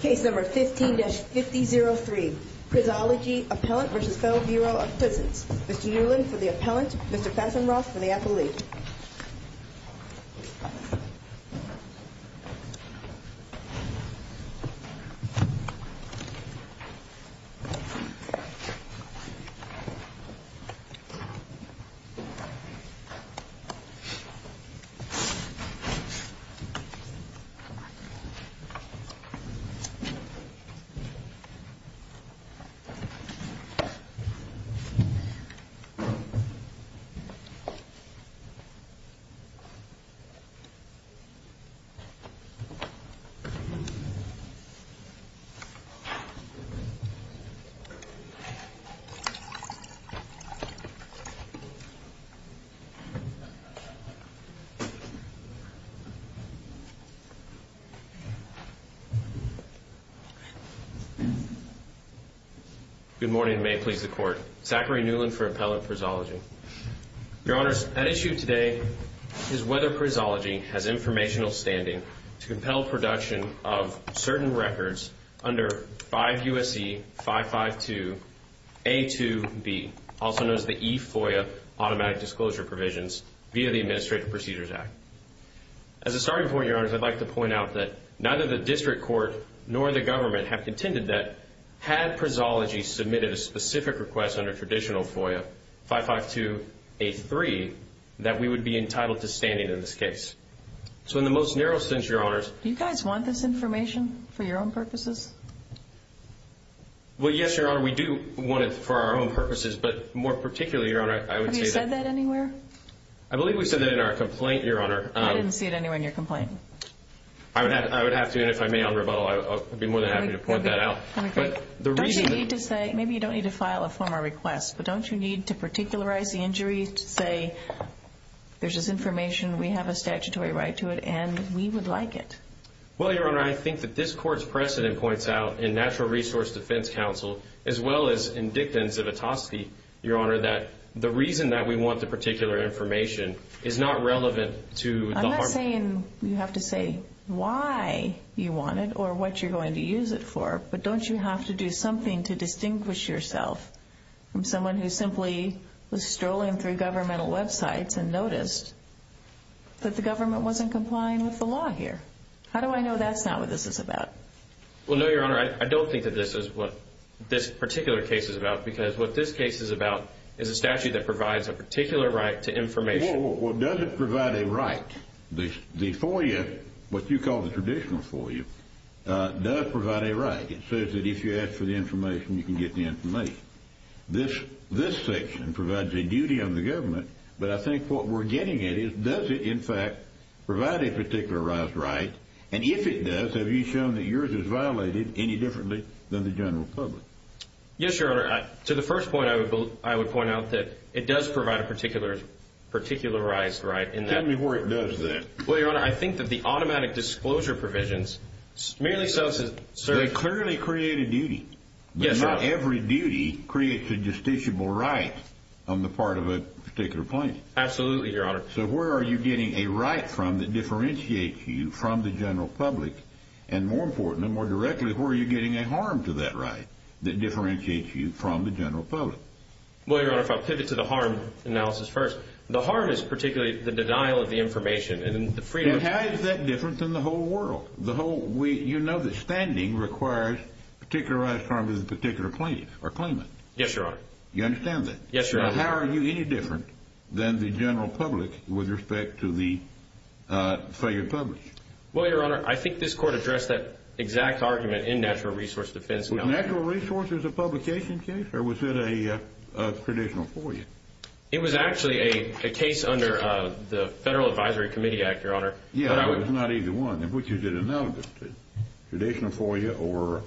Case number 15-5003, Prisology Appellant v. Federal Bureau of Prisons. Mr. Newland for the Appellant, Mr. Fassenroth for the Appellee. Mr. Newland for the Appellant, Mr. Fassenroth for the Appellee. Good morning and may it please the Court. Zachary Newland for Appellant Prisology. Your Honors, at issue today is whether Prisology has informational standing to compel production of certain records under 5 U.S.C. 552 A2B, also known as the E-FOIA Automatic Disclosure Provisions, via the Administrative Procedures Act. As a starting point, Your Honors, I'd like to point out that neither the District Court nor the government have contended that, had Prisology submitted a specific request under traditional FOIA 552 A3, that we would be entitled to standing in this case. So in the most narrow sense, Your Honors... Do you guys want this information for your own purposes? Well, yes, Your Honor, we do want it for our own purposes, but more particularly, Your Honor, I would say that... Have you said that anywhere? I believe we said that in our complaint, Your Honor. I didn't see it anywhere in your complaint. I would have to, and if I may, on rebuttal, I'd be more than happy to point that out. Okay. But the reason... Maybe you don't need to file a formal request, but don't you need to particularize the injury to say, there's this information, we have a statutory right to it, and we would like it? Well, Your Honor, I think that this Court's precedent points out, in Natural Resource Defense Counsel, as well as in Dicton's Zivotoski, Your Honor, that the reason that we want the particular information is not relevant to... I'm not saying you have to say why you want it or what you're going to use it for, but don't you have to do something to distinguish yourself from someone who simply was strolling through governmental websites and noticed that the government wasn't complying with the law here? How do I know that's not what this is about? Well, no, Your Honor. I don't think that this is what this particular case is about, because what this case is about is a statute that provides a particular right to information. Well, does it provide a right? The FOIA, what you call the traditional FOIA, does provide a right. It says that if you ask for the information, you can get the information. This section provides a duty on the government, but I think what we're getting at is, does it, in fact, provide a particularized right? And if it does, have you shown that yours is violated any differently than the general public? Yes, Your Honor. To the first point, I would point out that it does provide a particularized right in that... Tell me where it does that. Well, Your Honor, I think that the automatic disclosure provisions merely says... They clearly create a duty. Yes, Your Honor. But not every duty creates a justiciable right on the part of a particular plaintiff. Absolutely, Your Honor. So where are you getting a right from that differentiates you from the general public? And more important and more directly, where are you getting a harm to that right that differentiates you from the general public? Well, Your Honor, if I'll pivot to the harm analysis first, the harm is particularly the denial of the information and the freedom... How is that different than the whole world? You know that standing requires a particularized harm to the particular plaintiff or claimant. Yes, Your Honor. You understand that? Yes, Your Honor. But how are you any different than the general public with respect to the failure to publish? Well, Your Honor, I think this Court addressed that exact argument in Natural Resource Defense. Was Natural Resource a publication case or was it a traditional FOIA? It was actually a case under the Federal Advisory Committee Act, Your Honor. Yeah, but it was not either one, which is it analogous to, traditional FOIA or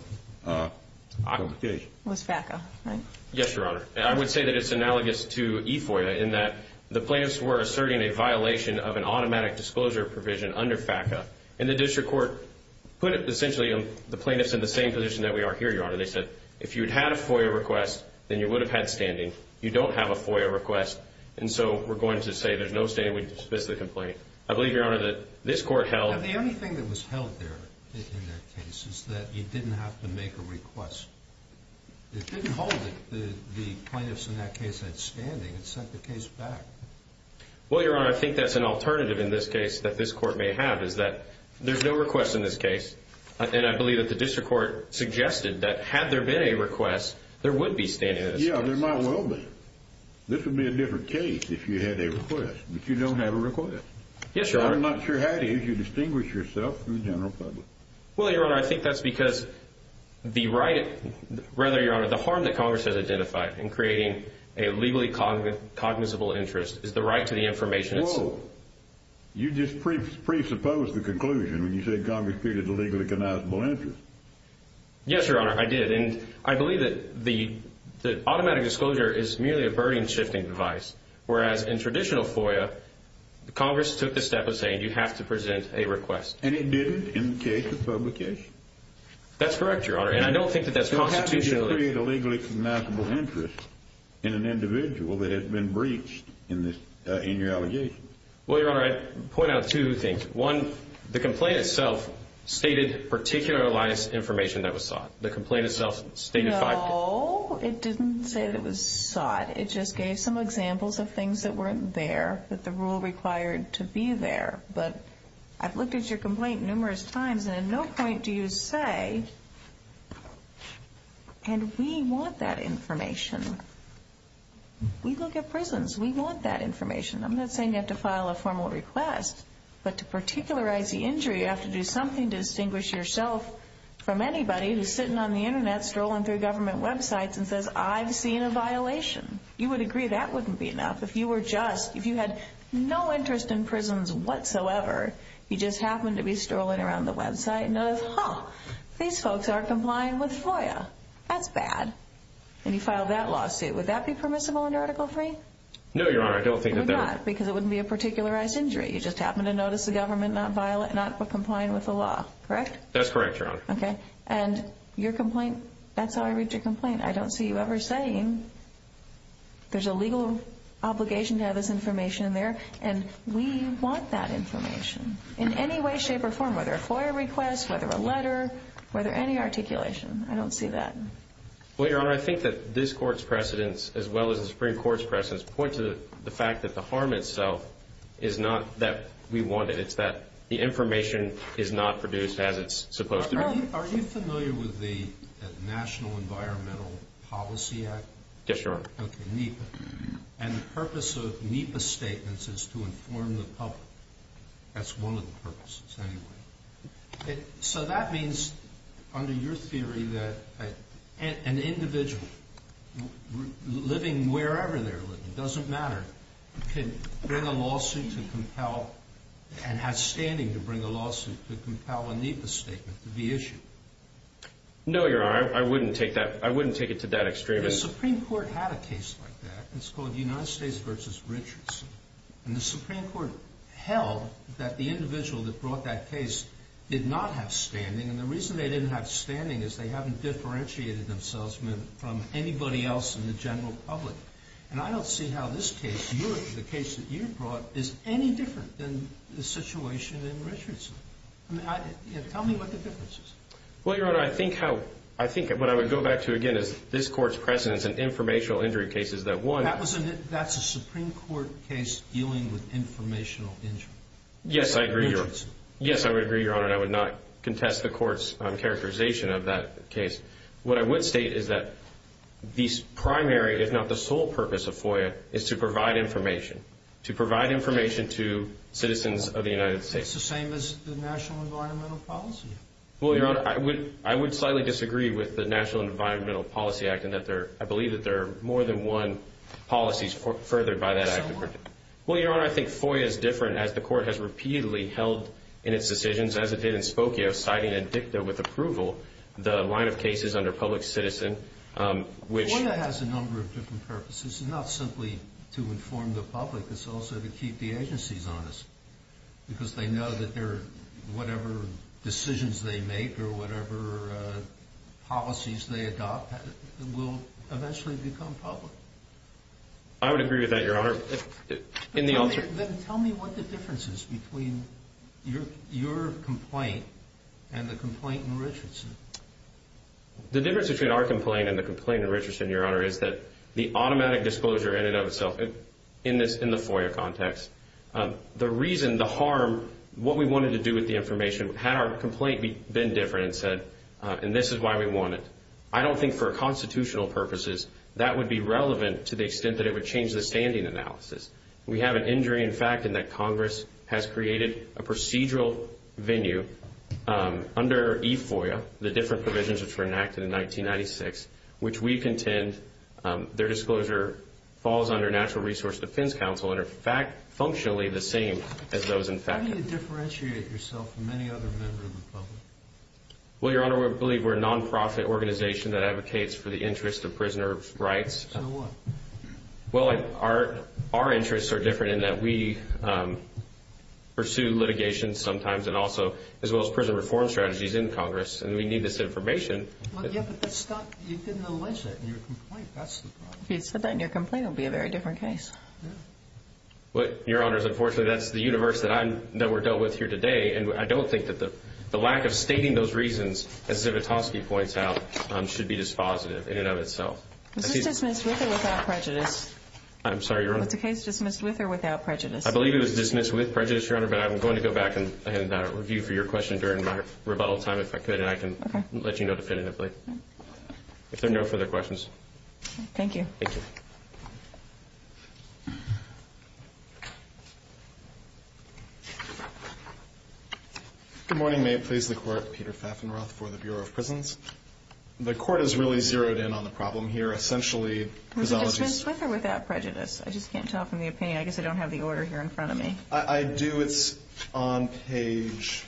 publication? It was FACA, right? Yes, Your Honor. I would say that it's analogous to e-FOIA in that the plaintiffs were asserting a violation of an automatic disclosure provision under FACA, and the district court put essentially the plaintiffs in the same position that we are here, Your Honor. They said if you'd had a FOIA request, then you would have had standing. You don't have a FOIA request, and so we're going to say there's no standing. We dismiss the complaint. I believe, Your Honor, that this Court held... Now, the only thing that was held there in that case is that you didn't have to make a request. It didn't hold that the plaintiffs in that case had standing. It sent the case back. Well, Your Honor, I think that's an alternative in this case that this Court may have, is that there's no request in this case, and I believe that the district court suggested that had there been a request, there would be standing in this case. Yeah, there might well be. This would be a different case if you had a request, but you don't have a request. Yes, Your Honor. I'm not sure how it is you distinguish yourself from the general public. Well, Your Honor, I think that's because the right, rather, Your Honor, the harm that Congress has identified in creating a legally cognizable interest is the right to the information itself. Whoa. You just presupposed the conclusion when you said Congress created a legally cognizable interest. Yes, Your Honor, I did, and I believe that the automatic disclosure is merely a burden-shifting device, whereas in traditional FOIA, Congress took the step of saying you have to present a request. And it did in the case of publication. That's correct, Your Honor, and I don't think that that's constitutional. So how did you create a legally cognizable interest in an individual that had been breached in your allegation? Well, Your Honor, I'd point out two things. One, the complaint itself stated particularized information that was sought. The complaint itself stated five different things. No, it didn't say that it was sought. It just gave some examples of things that weren't there that the rule required to be there. But I've looked at your complaint numerous times, and at no point do you say, and we want that information. We look at prisons. We want that information. I'm not saying you have to file a formal request, but to particularize the injury, you have to do something to distinguish yourself from anybody who's sitting on the Internet strolling through government websites and says, I've seen a violation. You would agree that wouldn't be enough. If you were just, if you had no interest in prisons whatsoever, you just happened to be strolling around the website and noticed, huh, these folks aren't complying with FOIA. That's bad. And you filed that lawsuit. Would that be permissible under Article III? No, Your Honor, I don't think that that would be. It would not, because it wouldn't be a particularized injury. You just happened to notice the government not complying with the law, correct? That's correct, Your Honor. Okay. And your complaint, that's how I read your complaint. I don't see you ever saying there's a legal obligation to have this information in there, and we want that information in any way, shape, or form, whether a FOIA request, whether a letter, whether any articulation. I don't see that. Well, Your Honor, I think that this Court's precedents, as well as the Supreme Court's precedents, point to the fact that the harm itself is not that we want it. It's that the information is not produced as it's supposed to be. Are you familiar with the National Environmental Policy Act? Yes, Your Honor. Okay, NEPA. And the purpose of NEPA statements is to inform the public. That's one of the purposes, anyway. So that means, under your theory, that an individual, living wherever they're living, doesn't matter, can bring a lawsuit to compel, and has standing to bring a lawsuit to compel a NEPA statement to be issued. No, Your Honor. I wouldn't take it to that extreme. The Supreme Court had a case like that. It's called United States v. Richards. And the Supreme Court held that the individual that brought that case did not have standing, and the reason they didn't have standing is they haven't differentiated themselves from anybody else in the general public. And I don't see how this case, the case that you brought, is any different than the situation in Richardson. Tell me what the difference is. Well, Your Honor, I think what I would go back to again is this Court's precedence in informational injury cases that won. That's a Supreme Court case dealing with informational injury. Yes, I agree, Your Honor. Yes, I would agree, Your Honor, and I would not contest the Court's characterization of that case. What I would state is that the primary, if not the sole, purpose of FOIA is to provide information, to provide information to citizens of the United States. It's the same as the National Environmental Policy Act. Well, Your Honor, I would slightly disagree with the National Environmental Policy Act in that I believe that there are more than one policies furthered by that act. Well, Your Honor, I think FOIA is different, as the Court has repeatedly held in its decisions, as it did in Spokio, citing a dicta with approval, the line of cases under public citizen, which— FOIA has a number of different purposes, not simply to inform the public. It's also to keep the agencies honest because they know that whatever decisions they make or whatever policies they adopt will eventually become public. I would agree with that, Your Honor. Then tell me what the difference is between your complaint and the complaint in Richardson. The difference between our complaint and the complaint in Richardson, Your Honor, is that the automatic disclosure in and of itself, in the FOIA context, the reason, the harm, what we wanted to do with the information had our complaint been different and said, and this is why we want it. I don't think for constitutional purposes that would be relevant to the extent that it would change the standing analysis. We have an injury in fact in that Congress has created a procedural venue under e-FOIA, the different provisions which were enacted in 1996, which we contend their disclosure falls under Natural Resource Defense Council and are functionally the same as those in fact. How do you differentiate yourself from any other member of the public? Well, Your Honor, we believe we're a nonprofit organization that advocates for the interest of prisoner rights. So what? Well, our interests are different in that we pursue litigation sometimes and also as well as prison reform strategies in Congress, and we need this information. Well, yeah, but that's not, you didn't allege that in your complaint. That's the problem. If you said that in your complaint, it would be a very different case. Well, Your Honors, unfortunately that's the universe that we're dealt with here today, and I don't think that the lack of stating those reasons, as Zivotofsky points out, should be dispositive in and of itself. Was this dismissed with or without prejudice? I'm sorry, Your Honor. Was the case dismissed with or without prejudice? I believe it was dismissed with prejudice, Your Honor, but I'm going to go back and review for your question during my rebuttal time if I could, and I can let you know definitively if there are no further questions. Thank you. Thank you. Good morning. May it please the Court. Peter Pfaffenroth for the Bureau of Prisons. The Court has really zeroed in on the problem here. Essentially, as long as he's ---- Was it dismissed with or without prejudice? I just can't tell from the opinion. I guess I don't have the order here in front of me. I do. It's on page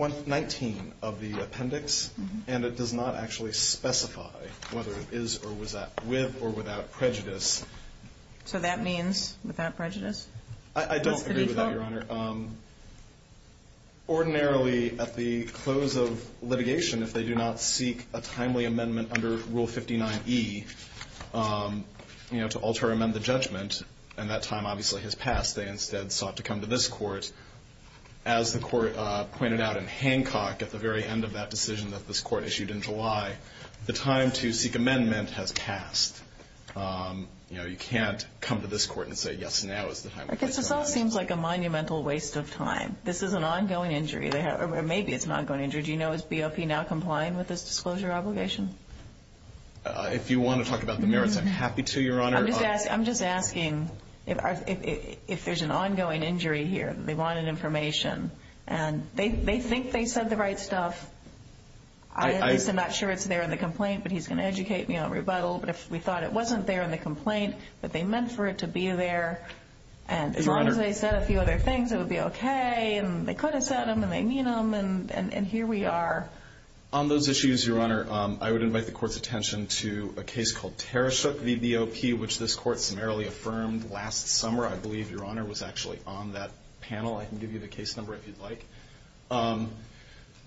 19 of the appendix, and it does not actually specify whether it is or was that with or without prejudice. So that means without prejudice? I don't agree with that, Your Honor. Ordinarily, at the close of litigation, if they do not seek a timely amendment under Rule 59E, you know, to alter or amend the judgment, and that time obviously has passed, they instead sought to come to this Court. As the Court pointed out in Hancock at the very end of that decision that this Court issued in July, the time to seek amendment has passed. You know, you can't come to this Court and say, yes, now is the time. I guess this all seems like a monumental waste of time. This is an ongoing injury. Maybe it's an ongoing injury. Do you know, is BOP now complying with this disclosure obligation? If you want to talk about the merits, I'm happy to, Your Honor. I'm just asking if there's an ongoing injury here. They wanted information, and they think they said the right stuff. At least I'm not sure it's there in the complaint, but he's going to educate me on rebuttal. But if we thought it wasn't there in the complaint, that they meant for it to be there, and as long as they said a few other things, it would be okay, and they could have said them, and they mean them, and here we are. On those issues, Your Honor, I would invite the Court's attention to a case called Tereshock v. BOP, which this Court summarily affirmed last summer. I believe Your Honor was actually on that panel. I can give you the case number if you'd like.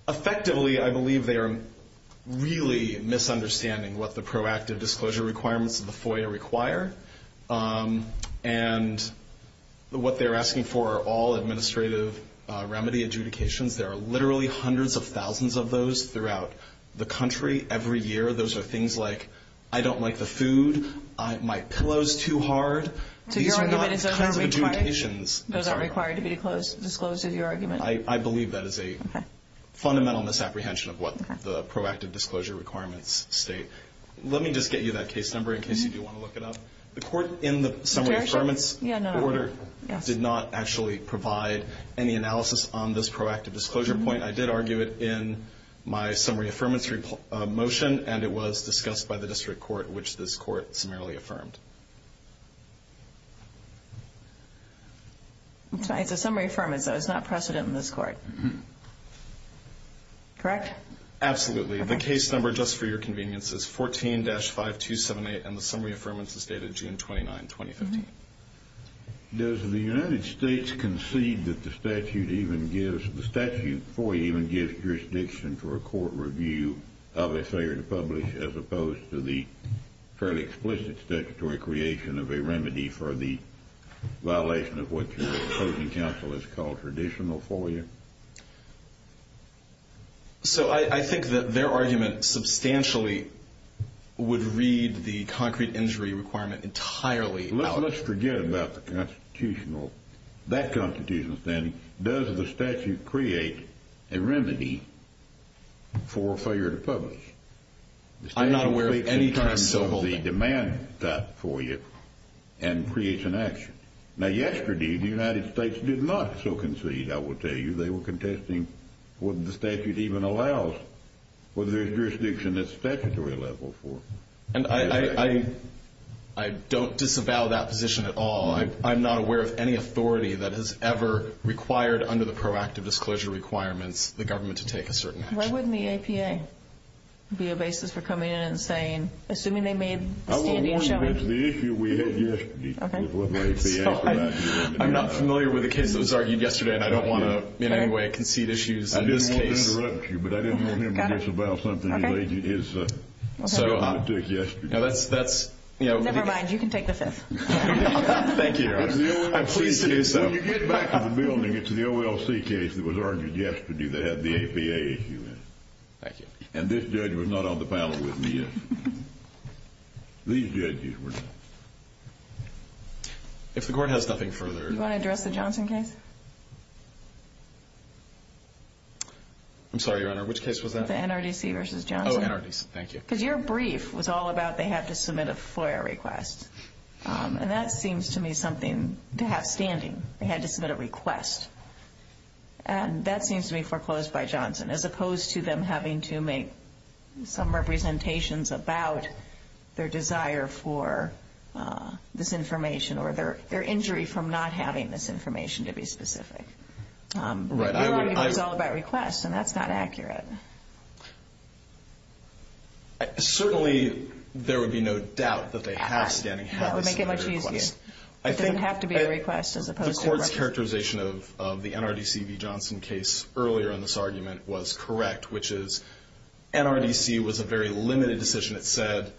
Effectively, I believe they are really misunderstanding what the proactive disclosure requirements of the FOIA require, and what they're asking for are all administrative remedy adjudications. There are literally hundreds of thousands of those throughout the country every year. Those are things like, I don't like the food, my pillow's too hard. These are not kind of adjudications. Those aren't required to be disclosed as your argument? I believe that is a fundamental misapprehension of what the proactive disclosure requirements state. Let me just get you that case number in case you do want to look it up. The Court in the summary affirmance order did not actually provide any analysis on this proactive disclosure point. I did argue it in my summary affirmance motion, and it was discussed by the District Court, which this Court summarily affirmed. It's a summary affirmance, though. It's not precedent in this Court. Correct? Absolutely. The case number, just for your convenience, is 14-5278, and the summary affirmance is dated June 29, 2015. Does the United States concede that the statute even gives, for a court review of a failure to publish, as opposed to the fairly explicit statutory creation of a remedy for the violation of what your opposing counsel has called traditional FOIA? I think that their argument substantially would read the concrete injury requirement entirely out. Let's forget about the constitutional. That constitutional, then, does the statute create a remedy for failure to publish? I'm not aware of any kind of civil thing. The statute takes control of the demand for FOIA and creates an action. Now, yesterday, the United States did not so concede, I will tell you. They were contesting whether the statute even allows whether there's jurisdiction at the statutory level for it. And I don't disavow that position at all. I'm not aware of any authority that has ever required, under the proactive disclosure requirements, the government to take a certain action. Why wouldn't the APA be a basis for coming in and saying, assuming they made a standing showing? I want to go back to the issue we had yesterday with the APA. I'm not familiar with the case that was argued yesterday, and I don't want to in any way concede issues in this case. I didn't want to interrupt you, but I didn't want him to disavow something he made yesterday. Never mind. You can take the fifth. Thank you, Your Honor. I'm pleased to do so. When you get back to the building, it's the OLC case that was argued yesterday that had the APA issue in it. Thank you. And this judge was not on the panel with me yet. These judges were not. If the Court has nothing further— Do you want to address the Johnson case? I'm sorry, Your Honor. Which case was that? The NRDC v. Johnson. Oh, NRDC. Thank you. Because your brief was all about they have to submit a FOIA request. And that seems to me something to have standing. They had to submit a request. And that seems to be foreclosed by Johnson, as opposed to them having to make some representations about their desire for this information or their injury from not having this information to be specific. Right. It was all about requests, and that's not accurate. Certainly there would be no doubt that they have standing. That would make it much easier. It doesn't have to be a request as opposed to a representation. The Court's characterization of the NRDC v. Johnson case earlier in this argument was correct, which is NRDC was a very limited decision. It said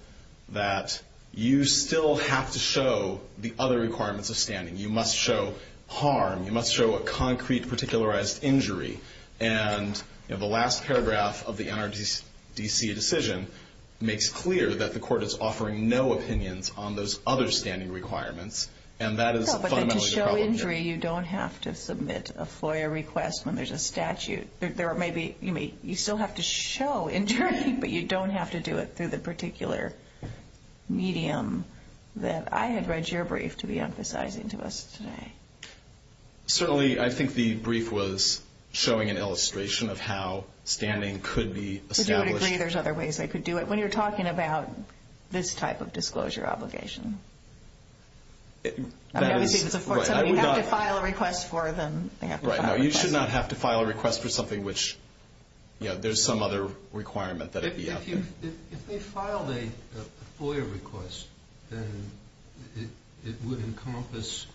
that you still have to show the other requirements of standing. You must show harm. You must show a concrete, particularized injury. And the last paragraph of the NRDC decision makes clear that the Court is offering no opinions on those other standing requirements, and that is fundamentally the problem here. No, but to show injury, you don't have to submit a FOIA request when there's a statute. You still have to show injury, but you don't have to do it through the particular medium that I had read your brief to be emphasizing to us today. Certainly, I think the brief was showing an illustration of how standing could be established. But you would agree there's other ways they could do it when you're talking about this type of disclosure obligation. That is, right. So you have to file a request for them. Right. No, you should not have to file a request for something which, you know, there's some other requirement that it be out there. If they filed a FOIA request, then it would encompass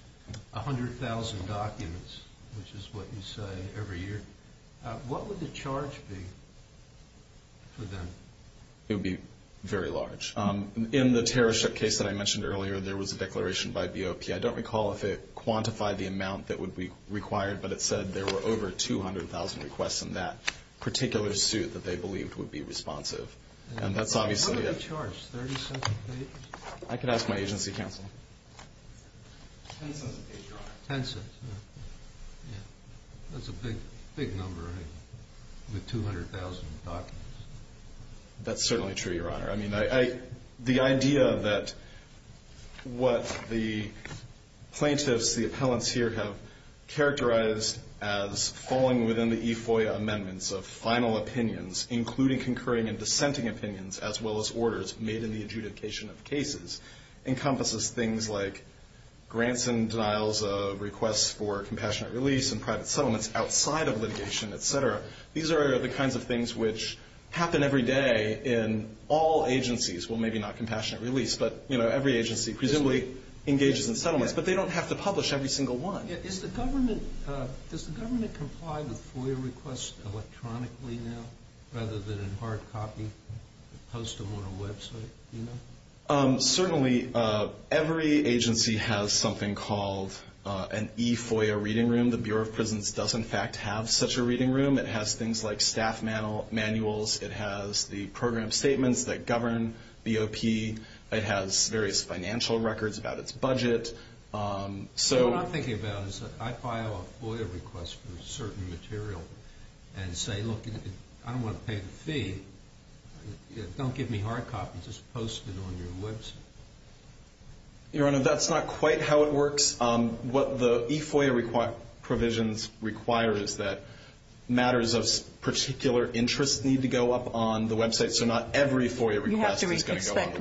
100,000 documents, which is what you say every year. What would the charge be for them? It would be very large. In the terror ship case that I mentioned earlier, there was a declaration by BOP. I don't recall if it quantified the amount that would be required, but it said there were over 200,000 requests, and that particular suit that they believed would be responsive. And that's obviously a charge. I could ask my agency counsel. Ten cents a page, Your Honor. Ten cents. That's a big number with 200,000 documents. That's certainly true, Your Honor. I mean, the idea that what the plaintiffs, the appellants here, have characterized as falling within the e-FOIA amendments of final opinions, including concurring and dissenting opinions, as well as orders made in the adjudication of cases, encompasses things like grants and denials of requests for compassionate release and private settlements outside of litigation, et cetera. These are the kinds of things which happen every day in all agencies. Well, maybe not compassionate release, but, you know, every agency presumably engages in settlements, but they don't have to publish every single one. Does the government comply with FOIA requests electronically now, rather than in hard copy, post them on a website? Certainly. Every agency has something called an e-FOIA reading room. The Bureau of Prisons does, in fact, have such a reading room. It has things like staff manuals. It has the program statements that govern BOP. It has various financial records about its budget. What I'm thinking about is I file a FOIA request for a certain material and say, look, I don't want to pay the fee. Don't give me hard copies. Just post it on your website. Your Honor, that's not quite how it works. What the e-FOIA provisions require is that matters of particular interest need to go up on the website, so not every FOIA request is going to go up on the website. You have to expect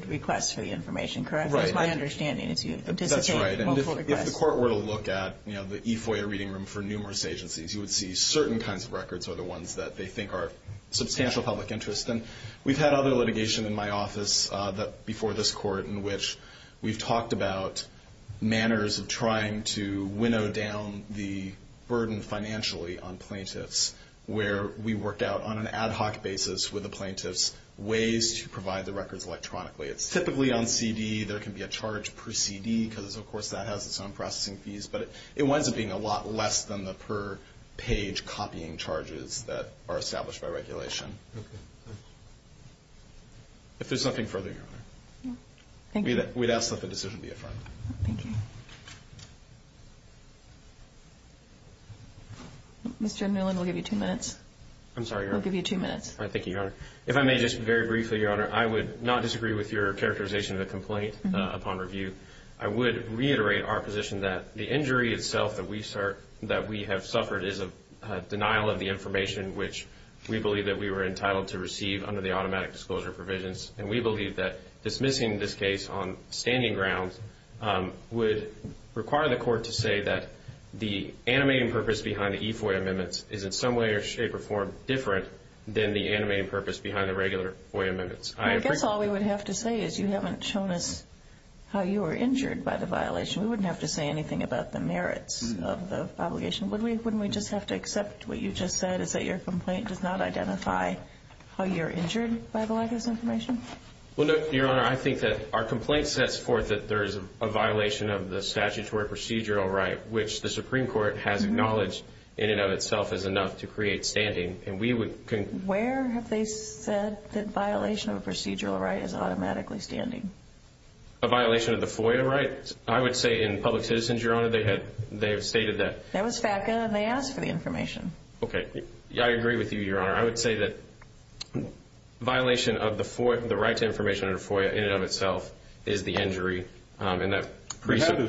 repeated requests for the information, correct? Right. That's my understanding is you anticipate multiple requests. That's right. And if the court were to look at, you know, the e-FOIA reading room for numerous agencies, you would see certain kinds of records are the ones that they think are substantial public interest. And we've had other litigation in my office before this court in which we've talked about manners of trying to winnow down the burden financially on plaintiffs where we worked out on an ad hoc basis with the plaintiffs ways to provide the records electronically. It's typically on CD. There can be a charge per CD because, of course, that has its own processing fees. But it winds up being a lot less than the per page copying charges that are established by regulation. Okay. If there's nothing further, Your Honor. No. Thank you. We'd ask that the decision be affirmed. Thank you. Mr. Newland, we'll give you two minutes. I'm sorry, Your Honor. We'll give you two minutes. All right. Thank you, Your Honor. If I may just very briefly, Your Honor, I would not disagree with your characterization of the complaint upon review. I would reiterate our position that the injury itself that we have suffered is a denial of the information which we believe that we were entitled to receive under the automatic disclosure provisions. And we believe that dismissing this case on standing grounds would require the court to say that the animating purpose behind the E-FOIA amendments is, in some way or shape or form, different than the animating purpose behind the regular FOIA amendments. I guess all we would have to say is you haven't shown us how you were injured by the violation. We wouldn't have to say anything about the merits of the obligation. Wouldn't we just have to accept what you just said is that your complaint does not identify how you were injured by the lack of this information? Well, no, Your Honor. I think that our complaint sets forth that there is a violation of the statutory procedural right, which the Supreme Court has acknowledged in and of itself is enough to create standing. Where have they said that violation of a procedural right is automatically standing? A violation of the FOIA right? I would say in Public Citizens, Your Honor, they have stated that. That was FACA, and they asked for the information. Okay. I agree with you, Your Honor. I would say that violation of the right to information under FOIA in and of itself is the injury. How does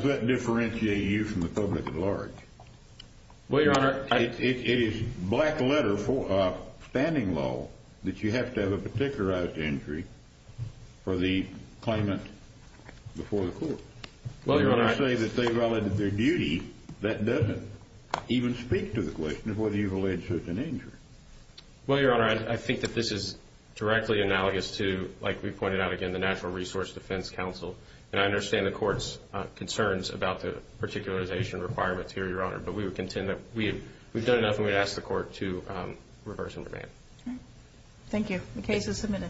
that differentiate you from the public at large? Well, Your Honor. It is black letter for a standing law that you have to have a particularized injury for the claimant before the court. Well, Your Honor. When I say that they validated their duty, that doesn't even speak to the question of whether you've alleged such an injury. Well, Your Honor, I think that this is directly analogous to, like we pointed out again, the Natural Resource Defense Council. And I understand the court's concerns about the particularization requirements here, Your Honor. But we would contend that we've done enough, and we'd ask the court to reverse and demand. Okay. Thank you. The case is submitted.